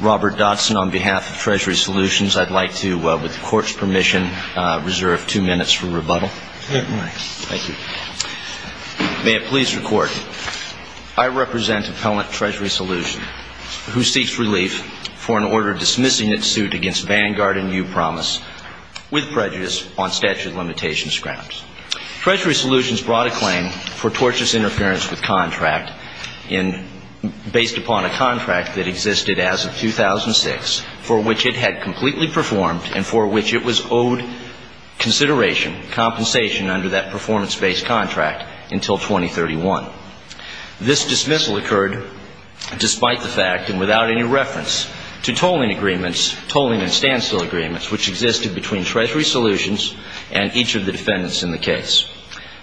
Robert Dodson on behalf of Treasury Solutions. I'd like to, with the Court's permission, reserve two minutes for rebuttal. Thank you. May it please the Court, I represent appellant Treasury Solutions who seeks relief for an order dismissing its suit against Vanguard and Upromise with prejudice on statute of limitations grounds. Treasury Solutions brought a claim for tortious interference with contract based upon a contract that existed as of 2006 for which it had completely performed and for which it was owed consideration, compensation under that performance-based contract until 2031. This dismissal occurred despite the fact and without any reference to tolling agreements, tolling and standstill agreements which existed between Treasury Solutions and each of the defendants in the case.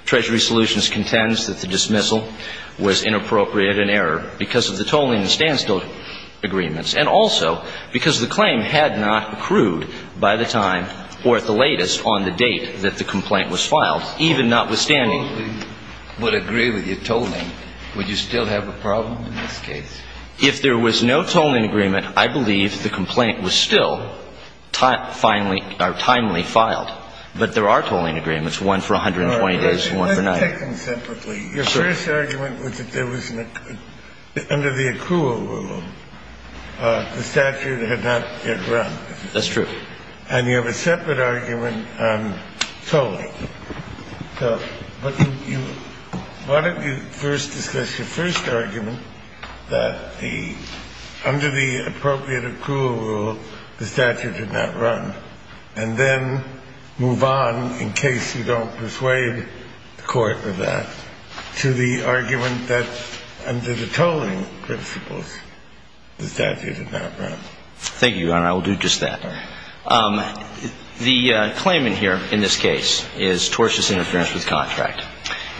Treasury Solutions contends that the dismissal was inappropriate and error because of the tolling and standstill agreements and also because the claim had not accrued by the time or at the latest on the date that the complaint was filed, even notwithstanding. If the plaintiff would agree with your tolling, would you still have a problem in this case? If there was no tolling agreement, I believe the complaint was still timely filed. But there are tolling agreements, one for 120 days and one for 90 days. Let's take them separately. Your first argument was that there was, under the accrual rule, the statute had not yet run. That's true. And you have a separate argument on tolling. So why don't you first discuss your first argument that under the appropriate accrual rule, the statute had not run, and then move on in case you don't persuade the court with that to the argument that under the tolling principles, the statute had not run. I will do just that. The claimant here in this case is tortious interference with contract.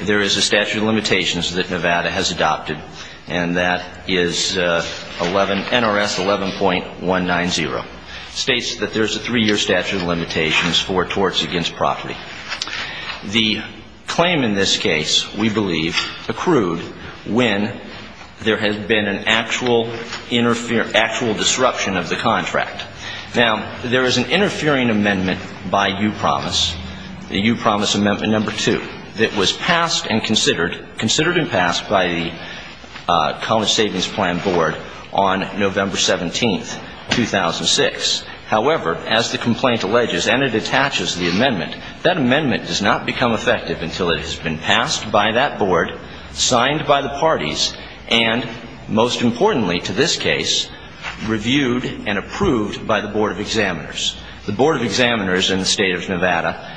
There is a statute of limitations that Nevada has adopted, and that is NRS 11.190. It states that there's a three-year statute of limitations for torts against property. The claim in this case, we believe, accrued when there has been an actual disruption of the contract. Now, there is an interfering amendment by U-Promise, the U-Promise Amendment No. 2, that was passed and considered and passed by the College Savings Plan Board on November 17, 2006. However, as the complaint alleges, and it attaches the amendment, that amendment does not become effective until it has been passed by that board, signed by the parties, and, most importantly to this case, reviewed and approved by the Board of Examiners. The Board of Examiners in the State of Nevada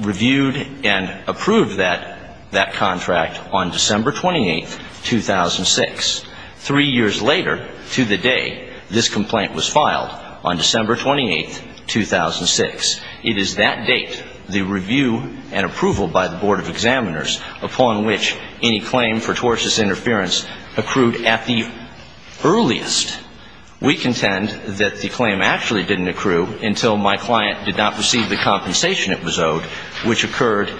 reviewed and approved that contract on December 28, 2006. Three years later, to the day this complaint was filed, on December 28, 2006. It is that date, the review and approval by the Board of Examiners, upon which any claim for tortious interference accrued at the earliest. We contend that the claim actually didn't accrue until my client did not receive the compensation it was owed, which occurred,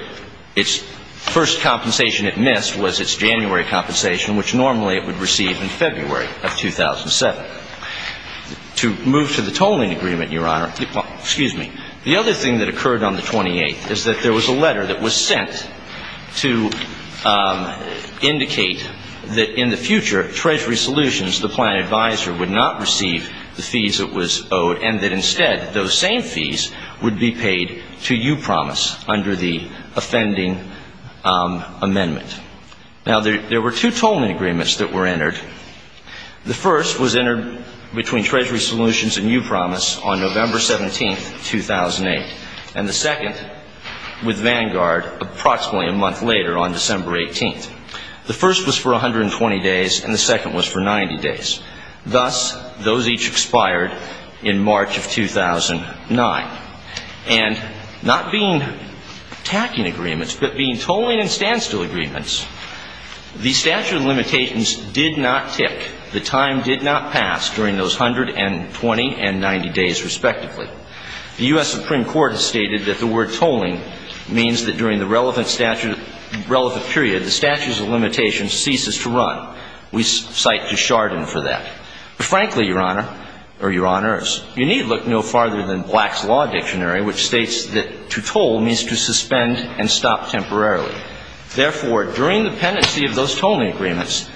its first compensation it missed was its January compensation, which normally it would receive in February of 2007. Now, to move to the tolling agreement, Your Honor, excuse me, the other thing that occurred on the 28th is that there was a letter that was sent to indicate that in the future, Treasury Solutions, the plan advisor, would not receive the fees it was owed, and that instead, those same fees would be paid to U-Promise under the offending amendment. Now, there were two tolling agreements that were entered. The first was entered between Treasury Solutions and U-Promise on November 17, 2008, and the second with Vanguard approximately a month later on December 18. The first was for 120 days, and the second was for 90 days. The U.S. Supreme Court has stated that the word tolling means that during the relevant statute, relevant period, the statutes of limitations ceases to run. We cite Desjardins for that. But frankly, Your Honor, or Your Honors, you need look no farther than Black's Law Dictionary, which states that to toll means to suspend and stop temporarily. Therefore, during the pendency of those tolling agreements,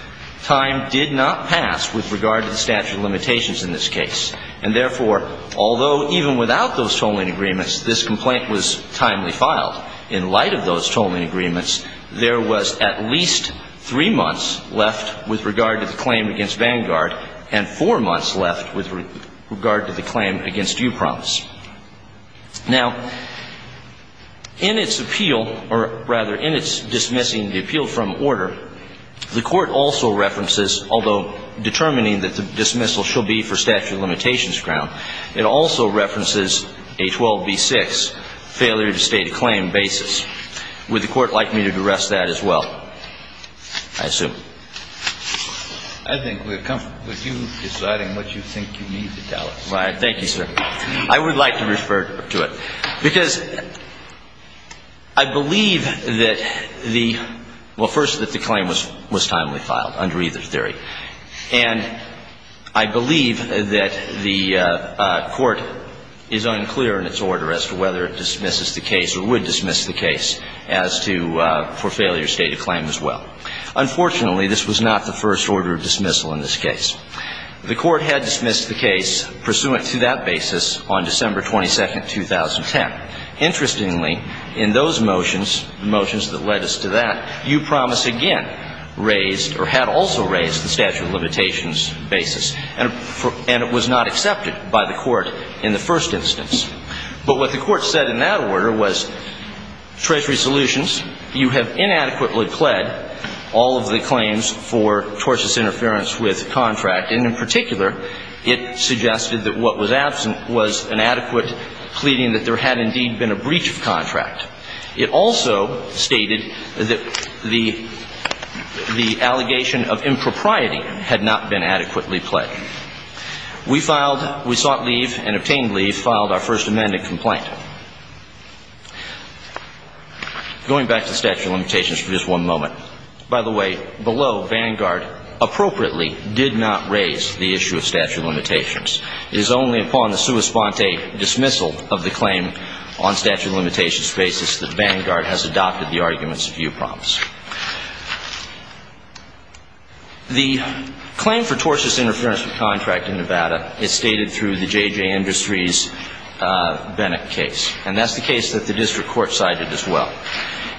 time did not pass with regard to the statute of limitations in this case. And therefore, although even without those tolling agreements, this complaint was timely filed, in light of those tolling agreements, there was at least three months left with regard to the claim against Vanguard and four months left with regard to the claim against U-Promise. Now, in its appeal, or rather in its dismissing the appeal from order, the Court also references, although determining that the dismissal shall be for statute of limitations ground, it also references a 12b-6 failure to state a claim basis. Would the Court like me to duress that as well? I assume. I think we're comfortable with you deciding what you think you need to tell us. Thank you, sir. I would like to refer to it. Because I believe that the – well, first, that the claim was timely filed under either theory. And I believe that the Court is unclear in its order as to whether it dismisses the case or would dismiss the case as to – for failure to state a claim as well. Unfortunately, this was not the first order of dismissal in this case. The Court had dismissed the case pursuant to that basis on December 22, 2010. Interestingly, in those motions, the motions that led us to that, U-Promise again raised or had also raised the statute of limitations basis. And it was not accepted by the Court in the first instance. But what the Court said in that order was, Treasury Solutions, you have inadequately pled all of the claims for tortious interference with contract. And in particular, it suggested that what was absent was an adequate pleading that there had indeed been a breach of contract. It also stated that the allegation of impropriety had not been adequately pled. We filed – we sought leave and obtained leave, filed our first amended complaint. Going back to statute of limitations for just one moment. By the way, below, Vanguard appropriately did not raise the issue of statute of limitations. It is only upon the sua sponte dismissal of the claim on statute of limitations basis that Vanguard has adopted the arguments of U-Promise. The claim for tortious interference with contract in Nevada is stated through the J.J. Industries Bennett case. And that's the case that the district court cited as well.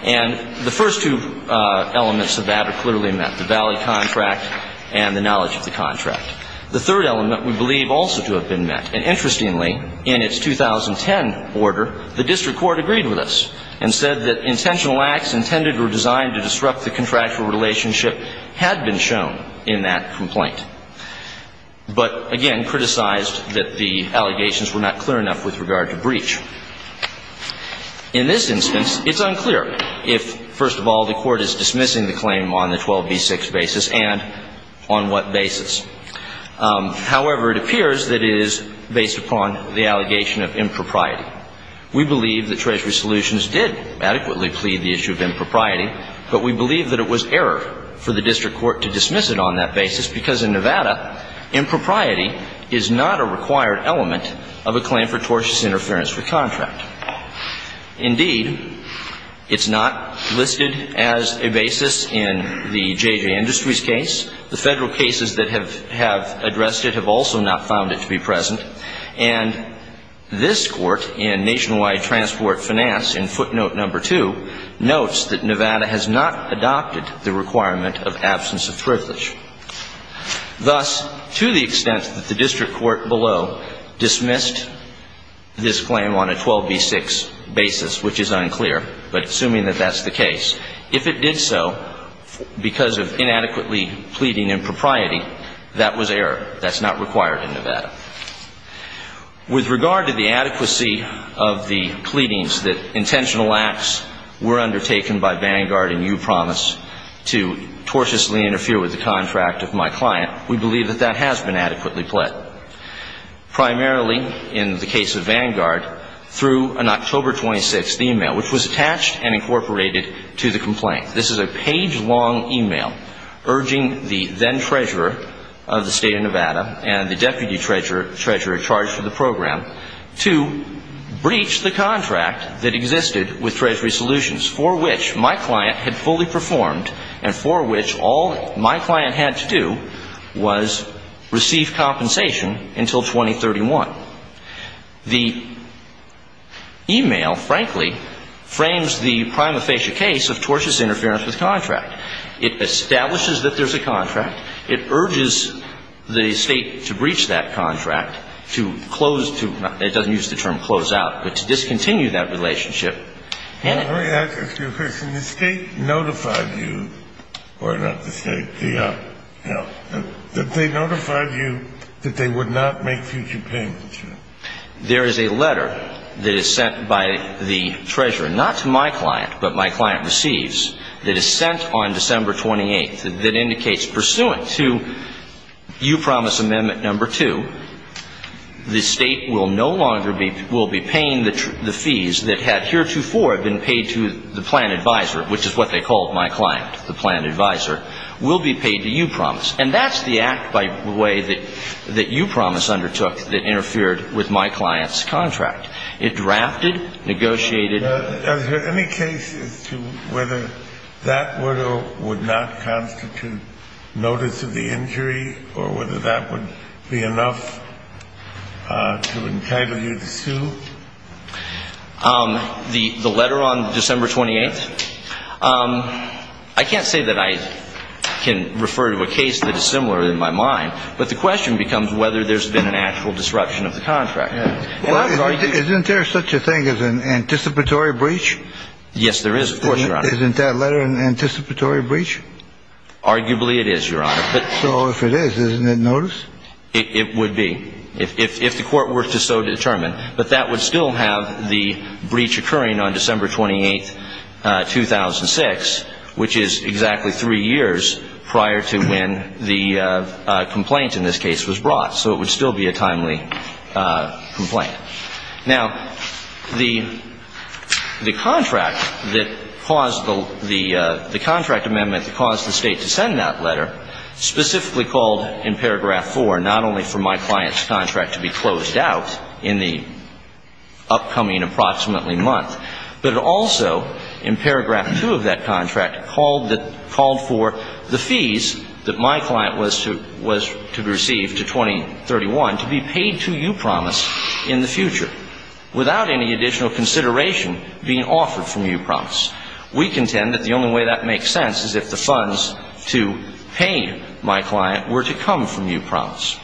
And the first two elements of that are clearly met, the valley contract and the knowledge of the contract. The third element we believe also to have been met. And interestingly, in its 2010 order, the district court agreed with us and said that intentional acts intended or designed to harm the district and to disrupt the contractual relationship had been shown in that complaint. But, again, criticized that the allegations were not clear enough with regard to breach. In this instance, it's unclear if, first of all, the court is dismissing the claim on the 12b-6 basis and on what basis. However, it appears that it is based upon the allegation of impropriety. We believe that Treasury Solutions did adequately plead the issue of impropriety, but we believe that it was error for the district court to dismiss it on that basis because in Nevada, impropriety is not a required element of a claim for tortious interference with contract. Indeed, it's not listed as a basis in the J.J. Industries case. The federal cases that have addressed it have also not found it to be present. And this court in Nationwide Transport Finance, in footnote number two, notes that Nevada has not adopted the requirement of absence of privilege. Thus, to the extent that the district court below dismissed this claim on a 12b-6 basis, which is unclear, but assuming that that's the case, if it did so because of inadequately pleading impropriety, that was error. That's not required in Nevada. With regard to the adequacy of the pleadings that intentional acts were undertaken by Vanguard and U.Promise to tortiously interfere with the contract of my client, we believe that that has been adequately pled. Primarily, in the case of Vanguard, through an October 26th e-mail, which was attached and incorporated to the complaint. This is a page-long e-mail urging the then treasurer of the State of Nevada and the deputy treasurer in charge of the program to breach the contract that existed with Treasury Solutions, for which my client had fully performed and for which all my client had to do was receive compensation until 2031. The e-mail, frankly, frames the prima facie case of tortious interference with contract. It establishes that there's a contract. It urges the State to breach that contract, to close to – it doesn't use the term close out, but to discontinue that relationship. Let me ask you a question. The State notified you – or not the State, the – no. Did they notify you that they would not make future payments? There is a letter that is sent by the treasurer, not to my client, but my client receives, that is sent on December 28th that indicates, pursuant to U.Promise Amendment No. 2, the State will no longer be – will be paying the fees that had heretofore been paid to the plan advisor, which is what they called my client, the plan advisor, will be paid to U.Promise. And that's the act by way that U.Promise undertook that interfered with my client's contract. It drafted, negotiated – Now, is there any case as to whether that would or would not constitute notice of the injury or whether that would be enough to entitle you to sue? The letter on December 28th? I can't say that I can refer to a case that is similar in my mind, but the question becomes whether there's been an actual disruption of the contract. Well, isn't there such a thing as an anticipatory breach? Yes, there is, of course, Your Honor. Isn't that letter an anticipatory breach? Arguably it is, Your Honor. So if it is, isn't it notice? It would be if the court were to so determine. But that would still have the breach occurring on December 28th, 2006, which is exactly three years prior to when the complaint in this case was brought. So it would still be a timely complaint. Now, the contract that caused the – the contract amendment that caused the State to send that letter specifically called in paragraph 4 not only for my client's contract to be closed out in the upcoming approximately month, but it also, in paragraph 2 of that contract, called for the fees that my client was to receive to 2031 to be paid to U-Promise in the future without any additional consideration being offered from U-Promise. We contend that the only way that makes sense is if the funds to pay my client were to come from U-Promise.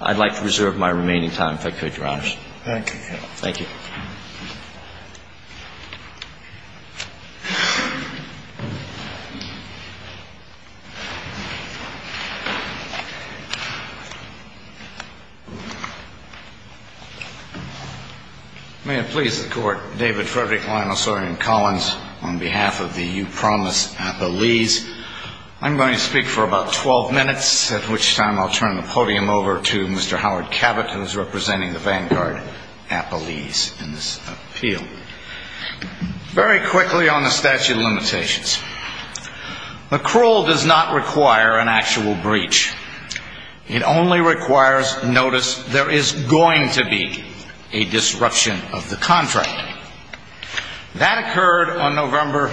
I'd like to reserve my remaining time if I could, Your Honors. Thank you. Thank you. May it please the Court, David Frederick, Lionel Sawyer, and Collins on behalf of the U-Promise Appellees. I'm going to speak for about 12 minutes, at which time I'll turn the podium over to Mr. Howard Cavett, who's representing the Vanguard Appellees in this appeal. Very quickly on the statute of limitations. The cruel does not require an actual breach. It only requires notice there is going to be a disruption of the contract. That occurred on November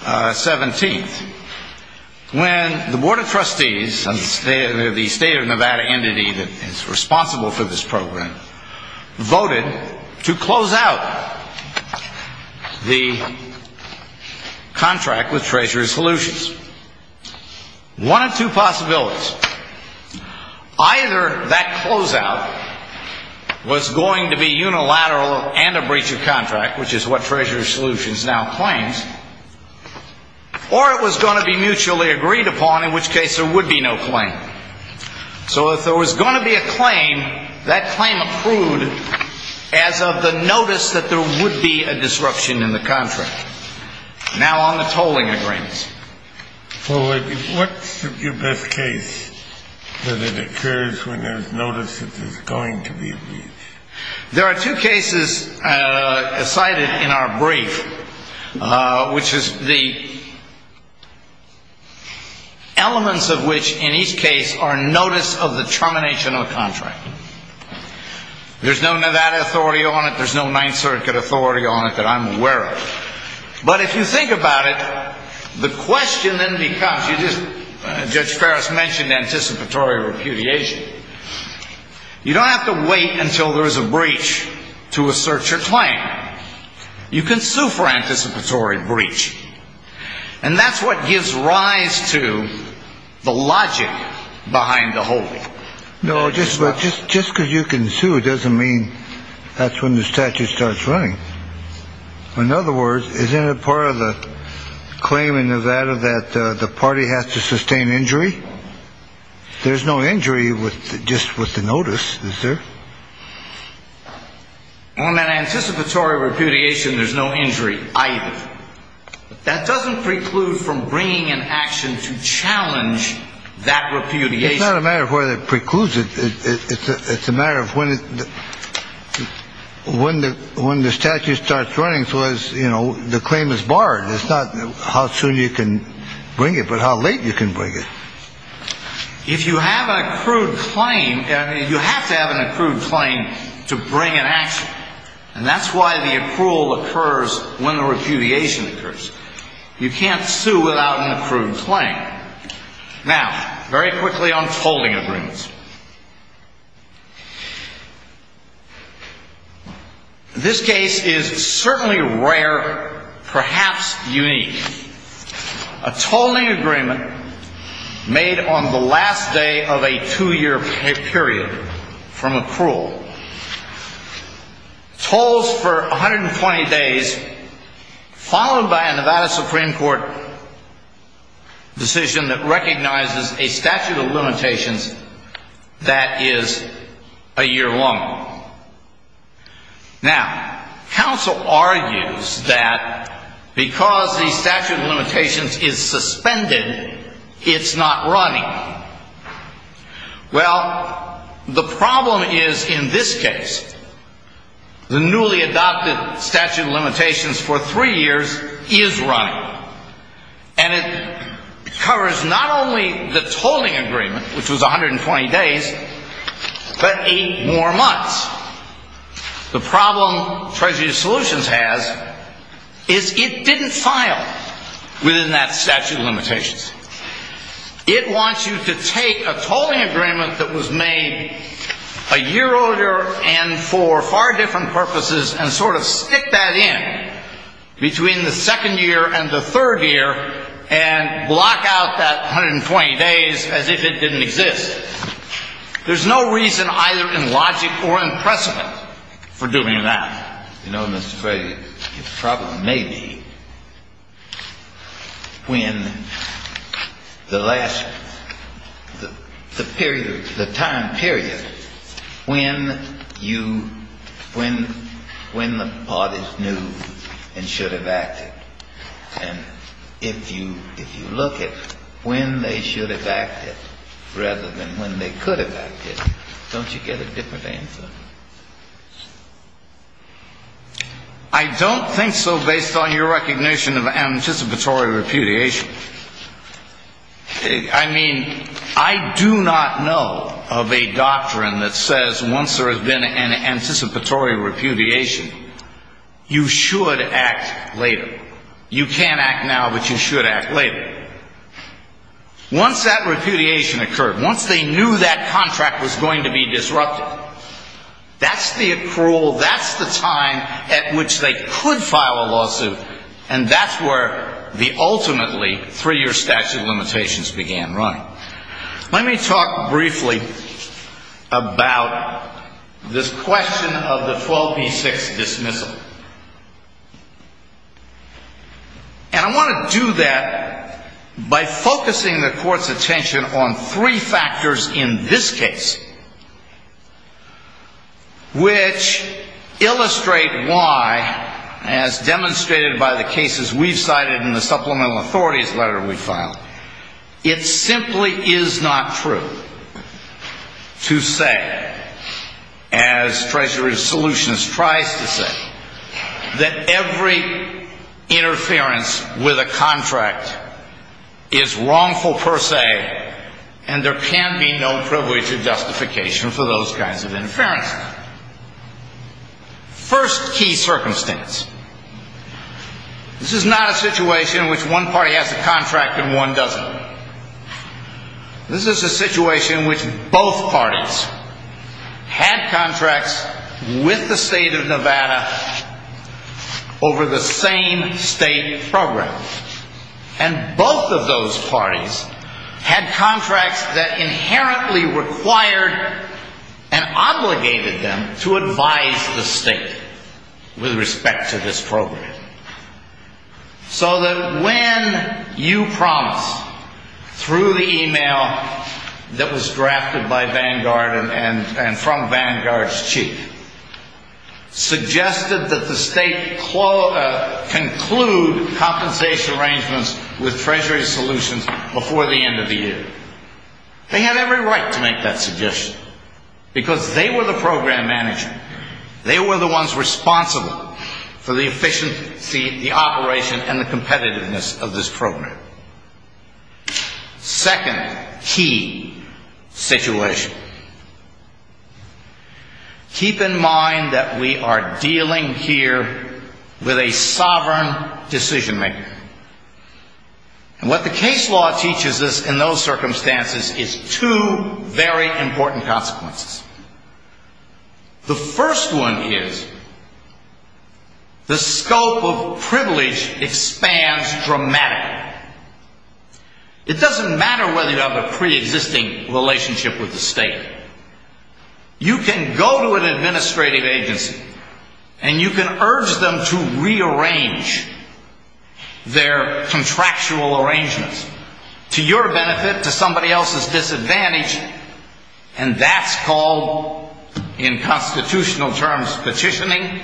17th, when the Board of Trustees, the State of Nevada entity that is responsible for this program, voted to close out the contract with Treasury Solutions. One of two possibilities. Either that closeout was going to be unilateral and a breach of contract, which is what Treasury Solutions now claims, or it was going to be mutually agreed upon, in which case there would be no claim. So if there was going to be a claim, that claim approved as of the notice that there would be a disruption in the contract. Now on the tolling agreements. What's the best case that it occurs when there's notice that there's going to be a breach? There are two cases cited in our brief, which is the elements of which, in each case, are notice of the termination of the contract. There's no Nevada authority on it, there's no Ninth Circuit authority on it that I'm aware of. But if you think about it, the question then becomes, Judge Ferris mentioned anticipatory repudiation. You don't have to wait until there's a breach to assert your claim. You can sue for anticipatory breach. And that's what gives rise to the logic behind the holding. No, just just just because you can sue doesn't mean that's when the statute starts running. In other words, is it a part of the claim in Nevada that the party has to sustain injury? There's no injury with just with the notice. On that anticipatory repudiation, there's no injury. That doesn't preclude from bringing an action to challenge that repudiation. It's not a matter of whether precludes it. It's a matter of when it when the when the statute starts running. So as you know, the claim is barred. It's not how soon you can bring it, but how late you can bring it. If you have an accrued claim, you have to have an accrued claim to bring an action. And that's why the accrual occurs when the repudiation occurs. You can't sue without an accrued claim. Now, very quickly on tolling agreements. This case is certainly rare, perhaps unique. A tolling agreement made on the last day of a two-year period from accrual. Tolls for 120 days, followed by a Nevada Supreme Court decision that recognizes a statute of limitations that is a year long. Now, counsel argues that because the statute of limitations is suspended, it's not running. Well, the problem is in this case, the newly adopted statute of limitations for three years is running. And it covers not only the tolling agreement, which was 120 days, but eight more months. The problem Treasury of Solutions has is it didn't file within that statute of limitations. It wants you to take a tolling agreement that was made a year older and for far different purposes and sort of stick that in between the second year and the third year and block out that 120 days as if it didn't exist. There's no reason either in logic or in precedent for doing that. You know, Mr. Fray, your problem may be when the last period, the time period, when you, when the parties knew and should have acted. And if you look at when they should have acted rather than when they could have acted, don't you get a different answer? I don't think so based on your recognition of anticipatory repudiation. I mean, I do not know of a doctrine that says once there has been an anticipatory repudiation, you should act later. You can't act now, but you should act later. Once that repudiation occurred, once they knew that contract was going to be disrupted, that's the accrual, that's the time at which they could file a lawsuit. And that's where the ultimately three-year statute of limitations began running. Let me talk briefly about this question of the 12b-6 dismissal. And I want to do that by focusing the court's attention on three factors in this case, which illustrate why, as demonstrated by the cases we've cited in the supplemental authorities letter we filed, it simply is not true to say, as Treasury Solutions tries to say, that every interference with a contract is wrongful per se, and there can be no privilege of justification for those kinds of interferences. First key circumstance. This is not a situation in which one party has a contract and one doesn't. This is a situation in which both parties had contracts with the state of Nevada over the same state program. And both of those parties had contracts that inherently required and obligated them to advise the state with respect to this program. So that when you promise, through the email that was drafted by Vanguard and from Vanguard's chief, suggested that the state conclude compensation arrangements with Treasury Solutions before the end of the year, they had every right to make that suggestion. Because they were the program manager. They were the ones responsible for the efficiency, the operation, and the competitiveness of this program. Second key situation. Keep in mind that we are dealing here with a sovereign decision maker. And what the case law teaches us in those circumstances is two very important consequences. The first one is, the scope of privilege expands dramatically. It doesn't matter whether you have a pre-existing relationship with the state. You can go to an administrative agency and you can urge them to rearrange their contractual arrangements to your benefit, to somebody else's disadvantage, and that's called, in constitutional terms, petitioning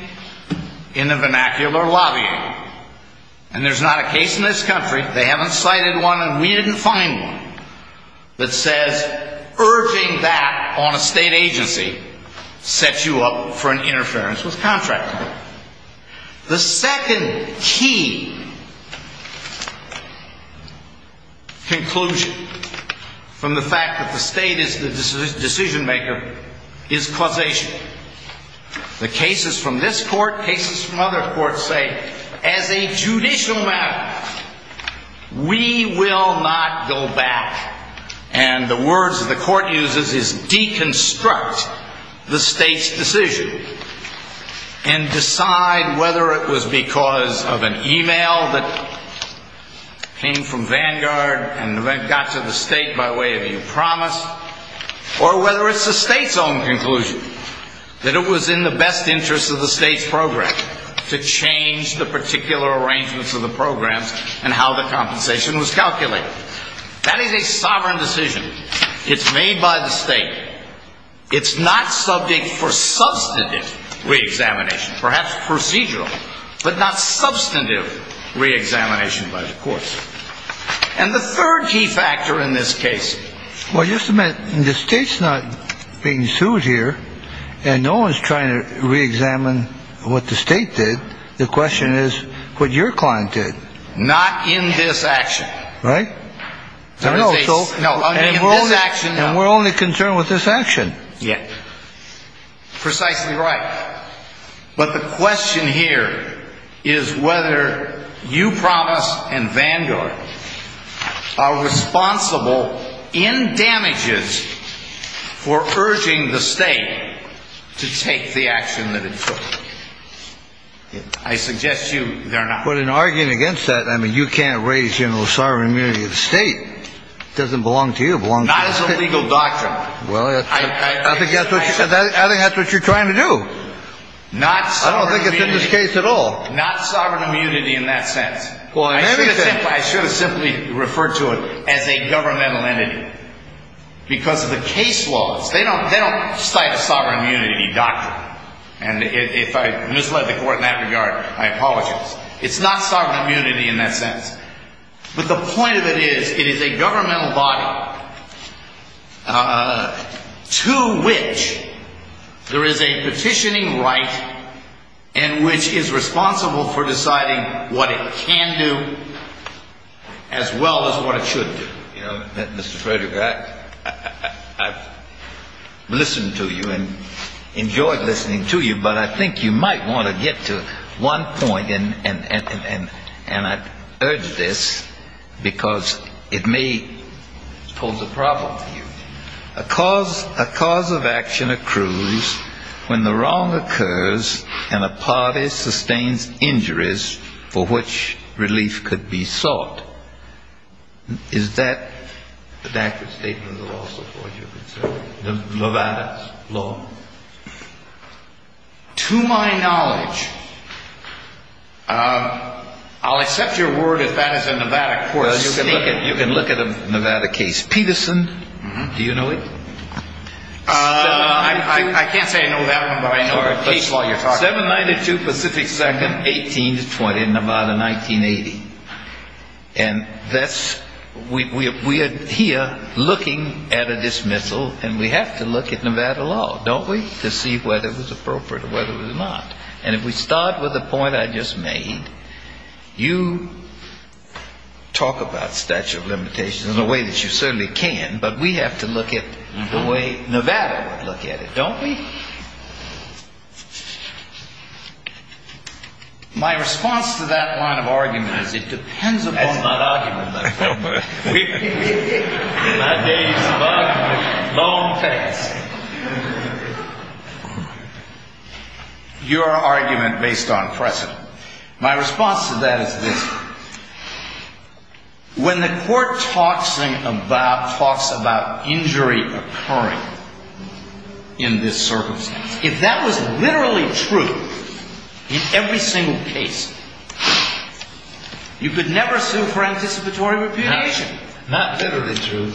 in the vernacular, lobbying. And there's not a case in this country, they haven't cited one and we didn't find one, that says urging that on a state agency sets you up for an interference with contract law. The second key conclusion from the fact that the state is the decision maker is causation. The cases from this court, cases from other courts say, as a judicial matter, we will not go back. And the words that the court uses is deconstruct the state's decision. And decide whether it was because of an email that came from Vanguard and got to the state by way of a promise, or whether it's the state's own conclusion. That it was in the best interest of the state's program to change the particular arrangements of the programs and how the compensation was calculated. That is a sovereign decision. It's made by the state. It's not subject for substantive re-examination, perhaps procedural, but not substantive re-examination by the courts. And the third key factor in this case. Well, just a minute. The state's not being sued here. And no one's trying to re-examine what the state did. The question is what your client did. Not in this action. Right? No, in this action, no. And we're only concerned with this action. Precisely right. But the question here is whether you promise and Vanguard are responsible in damages for urging the state to take the action that it took. I suggest you they're not. But in arguing against that, I mean, you can't raise the sovereign immunity of the state. It doesn't belong to you, it belongs to the state. Not as a legal doctrine. I think that's what you're trying to do. I don't think it's in this case at all. Not sovereign immunity in that sense. I should have simply referred to it as a governmental entity. Because of the case laws, they don't cite a sovereign immunity doctrine. And if I misled the court in that regard, I apologize. It's not sovereign immunity in that sense. But the point of it is, it is a governmental body. To which there is a petitioning right. And which is responsible for deciding what it can do. As well as what it should do. Mr. Frederick, I've listened to you and enjoyed listening to you. But I think you might want to get to one point. And I urge this, because it may pose a problem for you. A cause of action accrues when the wrong occurs and a party sustains injuries for which relief could be sought. Is that an accurate statement of the law support you're considering? Levada's law? To my knowledge, I'll accept your word if that is a Levada court statement. You can look at a Levada case. Peterson, do you know it? I can't say I know that one, but I know the case law you're talking about. 792 Pacific 2nd, 1820, in Levada, 1980. And we are here looking at a dismissal, and we have to look at Levada law, don't we? To see whether it was appropriate or whether it was not. And if we start with the point I just made, you talk about statute of limitations in a way that you certainly can. But we have to look at the way Levada would look at it, don't we? My response to that line of argument is it depends upon... That's not argument, that's not argument. My day's of argument. Long face. Your argument based on precedent. My response to that is this. When the court talks about injury occurring in this circumstance, if that was literally true in every single case, you could never sue for anticipatory repudiation. Not literally true.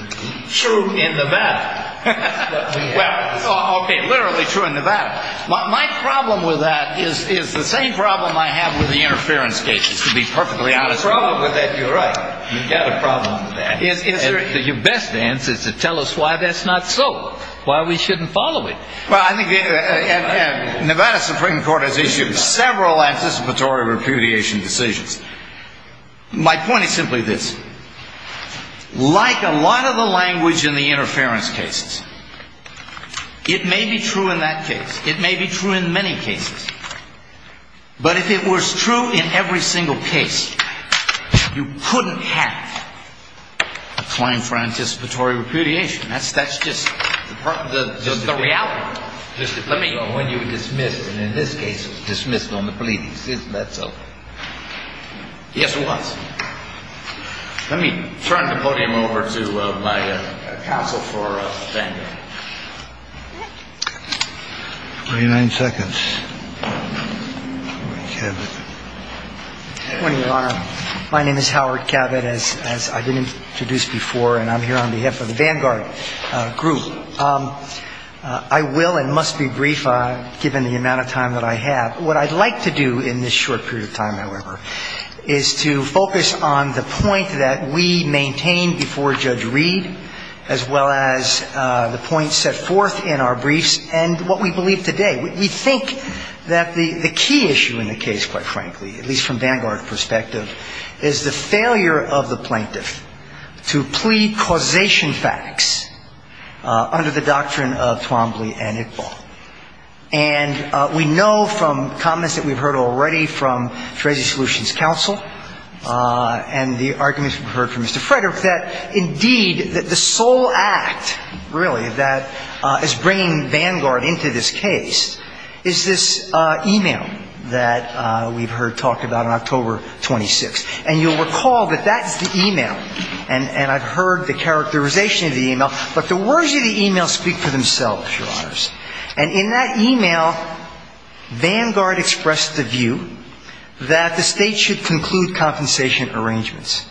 True in Levada. Okay, literally true in Levada. My problem with that is the same problem I have with the interference cases, to be perfectly honest with you. You're right, you've got a problem with that. Your best answer is to tell us why that's not so. Why we shouldn't follow it. Levada Supreme Court has issued several anticipatory repudiation decisions. My point is simply this. Like a lot of the language in the interference cases, it may be true in that case. It may be true in many cases. But if it was true in every single case, you couldn't have a claim for anticipatory repudiation. That's just the reality. When you were dismissed, and in this case dismissed on the police, isn't that so? Yes, it was. Let me turn the podium over to my counsel for defending. 29 seconds. Howard Cabot. Good morning, Your Honor. My name is Howard Cabot, as I've been introduced before, and I'm here on behalf of the Vanguard Group. I will and must be brief, given the amount of time that I have. What I'd like to do in this short period of time, however, is to focus on the point that we maintained before Judge Reed, as well as the points set forth in our briefs, and what we believe today. We think that the key issue in the case, quite frankly, at least from Vanguard's perspective, is the failure of the plaintiff to plead causation facts under the doctrine of Twombly and Iqbal. And we know from comments that we've heard already from Treasury Solutions Counsel, and the arguments we've heard from Mr. Frederick, that indeed the sole act, really, that is bringing Vanguard into this case is this e-mail that we've heard talk about on October 26th. And you'll recall that that's the e-mail, and I've heard the characterization of the e-mail, but the words of the e-mail speak for themselves, Your Honors. And in that e-mail, Vanguard expressed the view that the State should conclude compensation arrangements.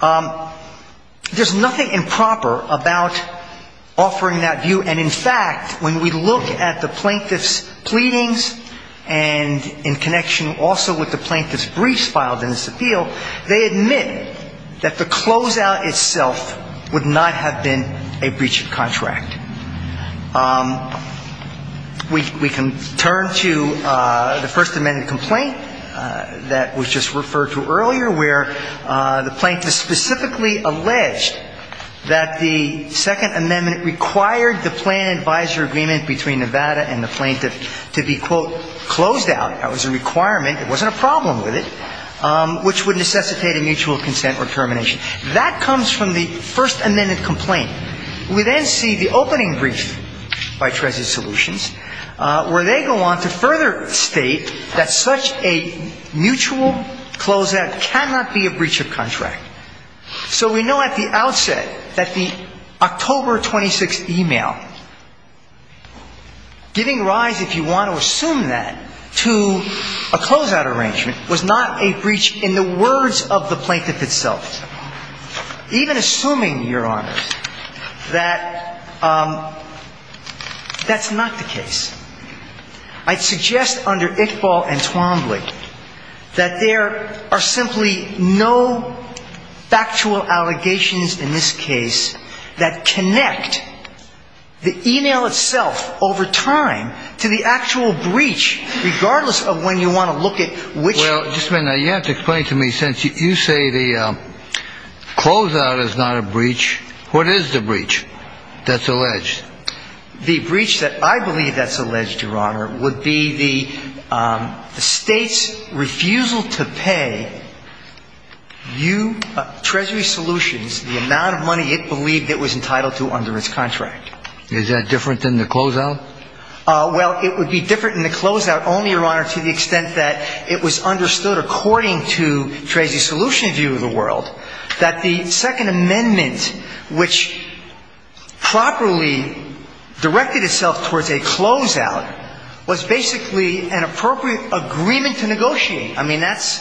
There's nothing improper about offering that view, and in fact, when we look at the plaintiff's pleadings, and in connection also with the plaintiff's briefs filed in this appeal, they admit that the closeout itself would not have been a breach of contract. We can turn to the First Amendment complaint that was just referred to earlier, where the plaintiff specifically alleged that the Second Amendment required the plan advisor agreement between Nevada and the plaintiff to be, quote, closed out. That was a requirement. It wasn't a problem with it, which would necessitate a mutual consent or termination. That comes from the First Amendment complaint. We then see the opening brief by Treasury Solutions, where they go on to further state that such a mutual closeout cannot be a breach of contract. So we know at the outset that the October 26th e-mail, giving rise, if you want to assume that, to a closeout arrangement was not a breach in the words of the plaintiff itself, even assuming, Your Honors, that that's not the case. I'd suggest under Iqbal and Twombly that there are simply no factual allegations in this case that connect the e-mail itself over time to the actual breach, regardless of when you want to look at which – Well, just a minute. You have to explain to me, since you say the closeout is not a breach, the breach that I believe that's alleged, Your Honor, would be the State's refusal to pay Treasury Solutions the amount of money it believed it was entitled to under its contract. Is that different than the closeout? Well, it would be different than the closeout only, Your Honor, to the extent that it was understood according to Treasury Solutions' view of the world that the Second Amendment, which properly directed itself towards a closeout, was basically an appropriate agreement to negotiate. I mean, that's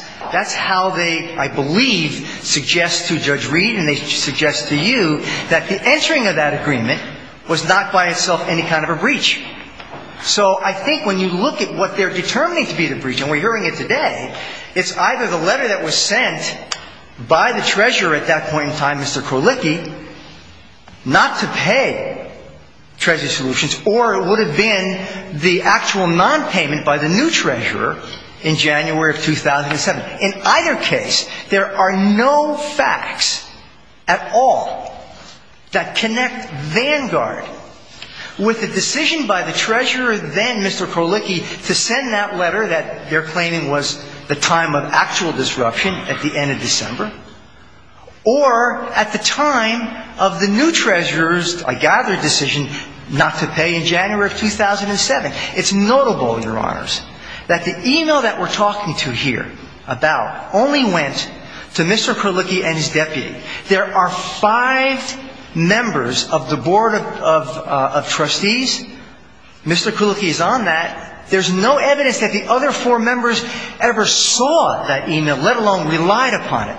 how they, I believe, suggest to Judge Reed and they suggest to you that the entering of that agreement was not by itself any kind of a breach. So I think when you look at what they're determining to be the breach, and we're hearing it today, it's either the letter that was sent by the Treasurer at that point in time, Mr. Krolicki, not to pay Treasury Solutions, or it would have been the actual nonpayment by the new Treasurer in January of 2007. In either case, there are no facts at all that connect Vanguard with the decision by the Treasurer, then, Mr. Krolicki, to send that letter that they're claiming was the time of actual disruption at the end of December, or at the time of the new Treasurer's, I gather, decision not to pay in January of 2007. It's notable, Your Honors, that the e-mail that we're talking to here about only went to Mr. Krolicki and his deputy. There are five members of the Board of Trustees. Mr. Krolicki is on that. There's no evidence that the other four members ever saw that e-mail, let alone relied upon it.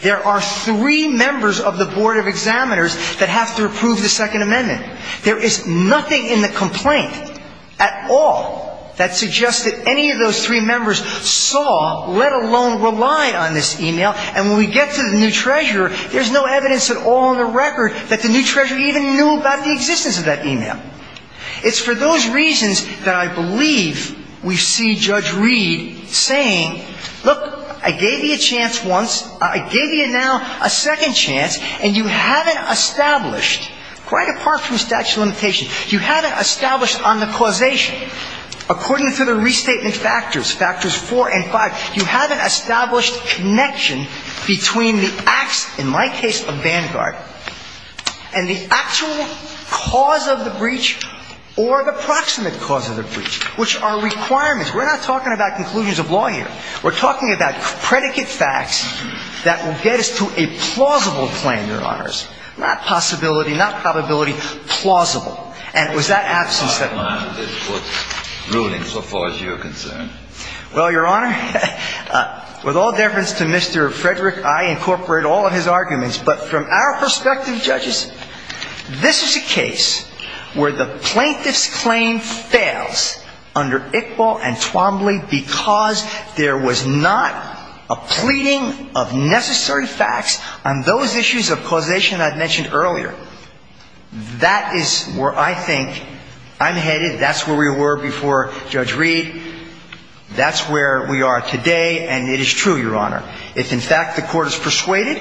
There are three members of the Board of Examiners that have to approve the Second Amendment. There is nothing in the complaint at all that suggests that any of those three members saw, let alone rely on this e-mail. And when we get to the new Treasurer, there's no evidence at all in the record that the new Treasurer even knew about the existence of that e-mail. It's for those reasons that I believe we see Judge Reed saying, look, I gave you a chance once. I gave you now a second chance, and you haven't established, quite apart from statute of limitations, you haven't established on the causation. According to the restatement factors, factors four and five, you haven't established connection between the acts, in my case, of Vanguard and the actual cause of the breach or the proximate cause of the breach, which are requirements. We're not talking about conclusions of law here. We're talking about predicate facts that will get us to a plausible claim, Your Honors, not possibility, not probability, plausible. And it was that absence that led to this ruling, so far as you're concerned. Well, Your Honor, with all deference to Mr. Frederick, I incorporate all of his arguments. But from our perspective, judges, this is a case where the plaintiff's claim fails under Iqbal and Twombly because there was not a pleading of necessary facts on those issues of causation I mentioned earlier. That is where I think I'm headed. That's where we were before Judge Reed. That's where we are today, and it is true, Your Honor. If, in fact, the court is persuaded,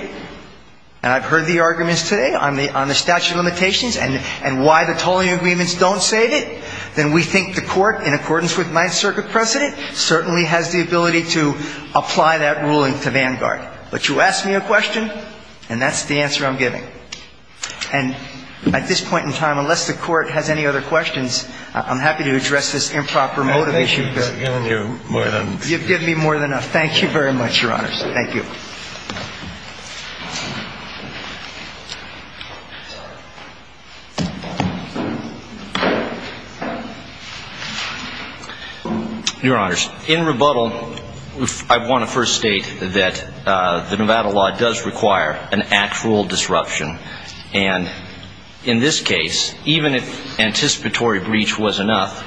and I've heard the arguments today on the statute of limitations and why the tolling agreements don't save it, then we think the court, in accordance with Ninth Circuit precedent, certainly has the ability to apply that ruling to Vanguard. But you ask me a question, and that's the answer I'm giving. And at this point in time, unless the court has any other questions, I'm happy to address this improper motivation. You've given me more than enough. You've given me more than enough. Thank you very much, Your Honors. Thank you. Your Honors, in rebuttal, I want to first state that the Nevada law does require an actual disruption. And in this case, even if anticipatory breach was enough,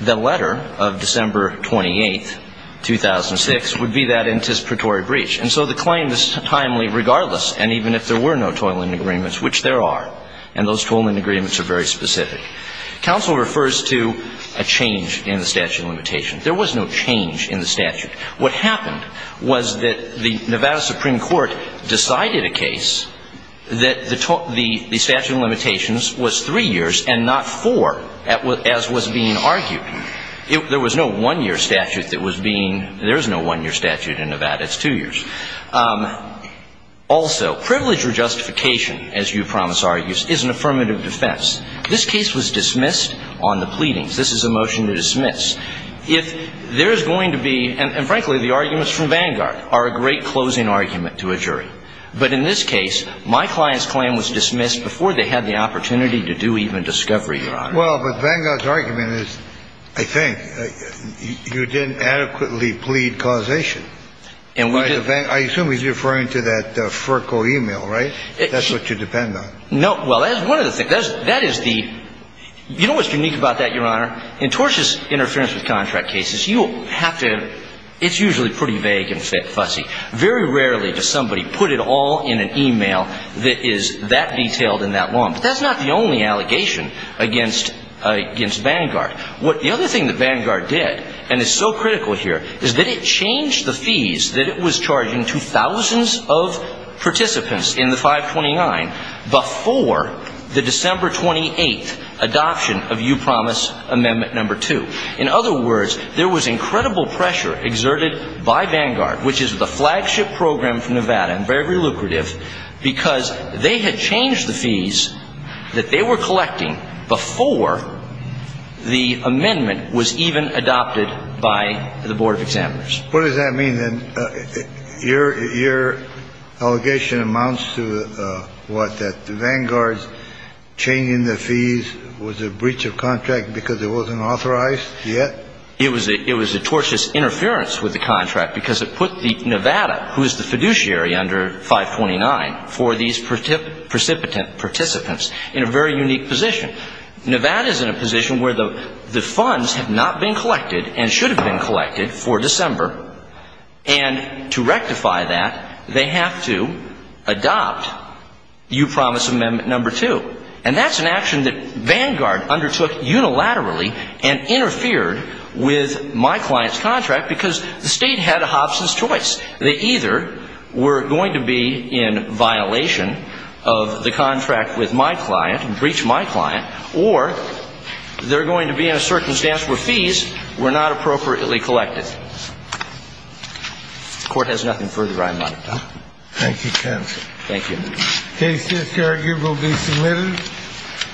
the letter of December 28, 2006, would be that anticipatory breach. And so the claim is timely regardless, and even if there were no tolling agreements, which there are, and those tolling agreements are very specific. Counsel refers to a change in the statute of limitations. There was no change in the statute. What happened was that the Nevada Supreme Court decided a case that the statute of limitations was three years and not four, as was being argued. There was no one-year statute that was being ‑‑ there is no one-year statute in Nevada. It's two years. Also, privilege or justification, as you promise argues, is an affirmative defense. This case was dismissed on the pleadings. This is a motion to dismiss. If there is going to be ‑‑ and, frankly, the arguments from Vanguard are a great closing argument to a jury. But in this case, my client's claim was dismissed before they had the opportunity to do even discovery, Your Honor. Well, but Vanguard's argument is, I think, you didn't adequately plead causation. I assume he's referring to that FERCO e-mail, right? That's what you depend on. Well, that is one of the things. That is the ‑‑ you know what's unique about that, Your Honor? In tortious interference with contract cases, you have to ‑‑ it's usually pretty vague and fussy. Very rarely does somebody put it all in an e-mail that is that detailed and that long. But that's not the only allegation against Vanguard. The other thing that Vanguard did, and is so critical here, is that it changed the fees that it was charging to thousands of participants in the 529 before the December 28th adoption of You Promise Amendment No. 2. In other words, there was incredible pressure exerted by Vanguard, which is the flagship program from Nevada and very lucrative, because they had changed the fees that they were collecting before the amendment was even adopted by the Board of Examiners. What does that mean, then? Your allegation amounts to what, that Vanguard's changing the fees was a breach of contract because it wasn't authorized yet? It was a tortious interference with the contract because it put Nevada, who is the fiduciary under 529, for these precipitant participants in a very unique position. Nevada is in a position where the funds have not been collected and should have been collected for December. And to rectify that, they have to adopt You Promise Amendment No. 2. And that's an action that Vanguard undertook unilaterally and interfered with my client's contract because the state had a hopeless choice. They either were going to be in violation of the contract with my client and breach my client, or they're going to be in a circumstance where fees were not appropriately collected. The Court has nothing further I might add. Thank you, counsel. Thank you. The case this year will be submitted.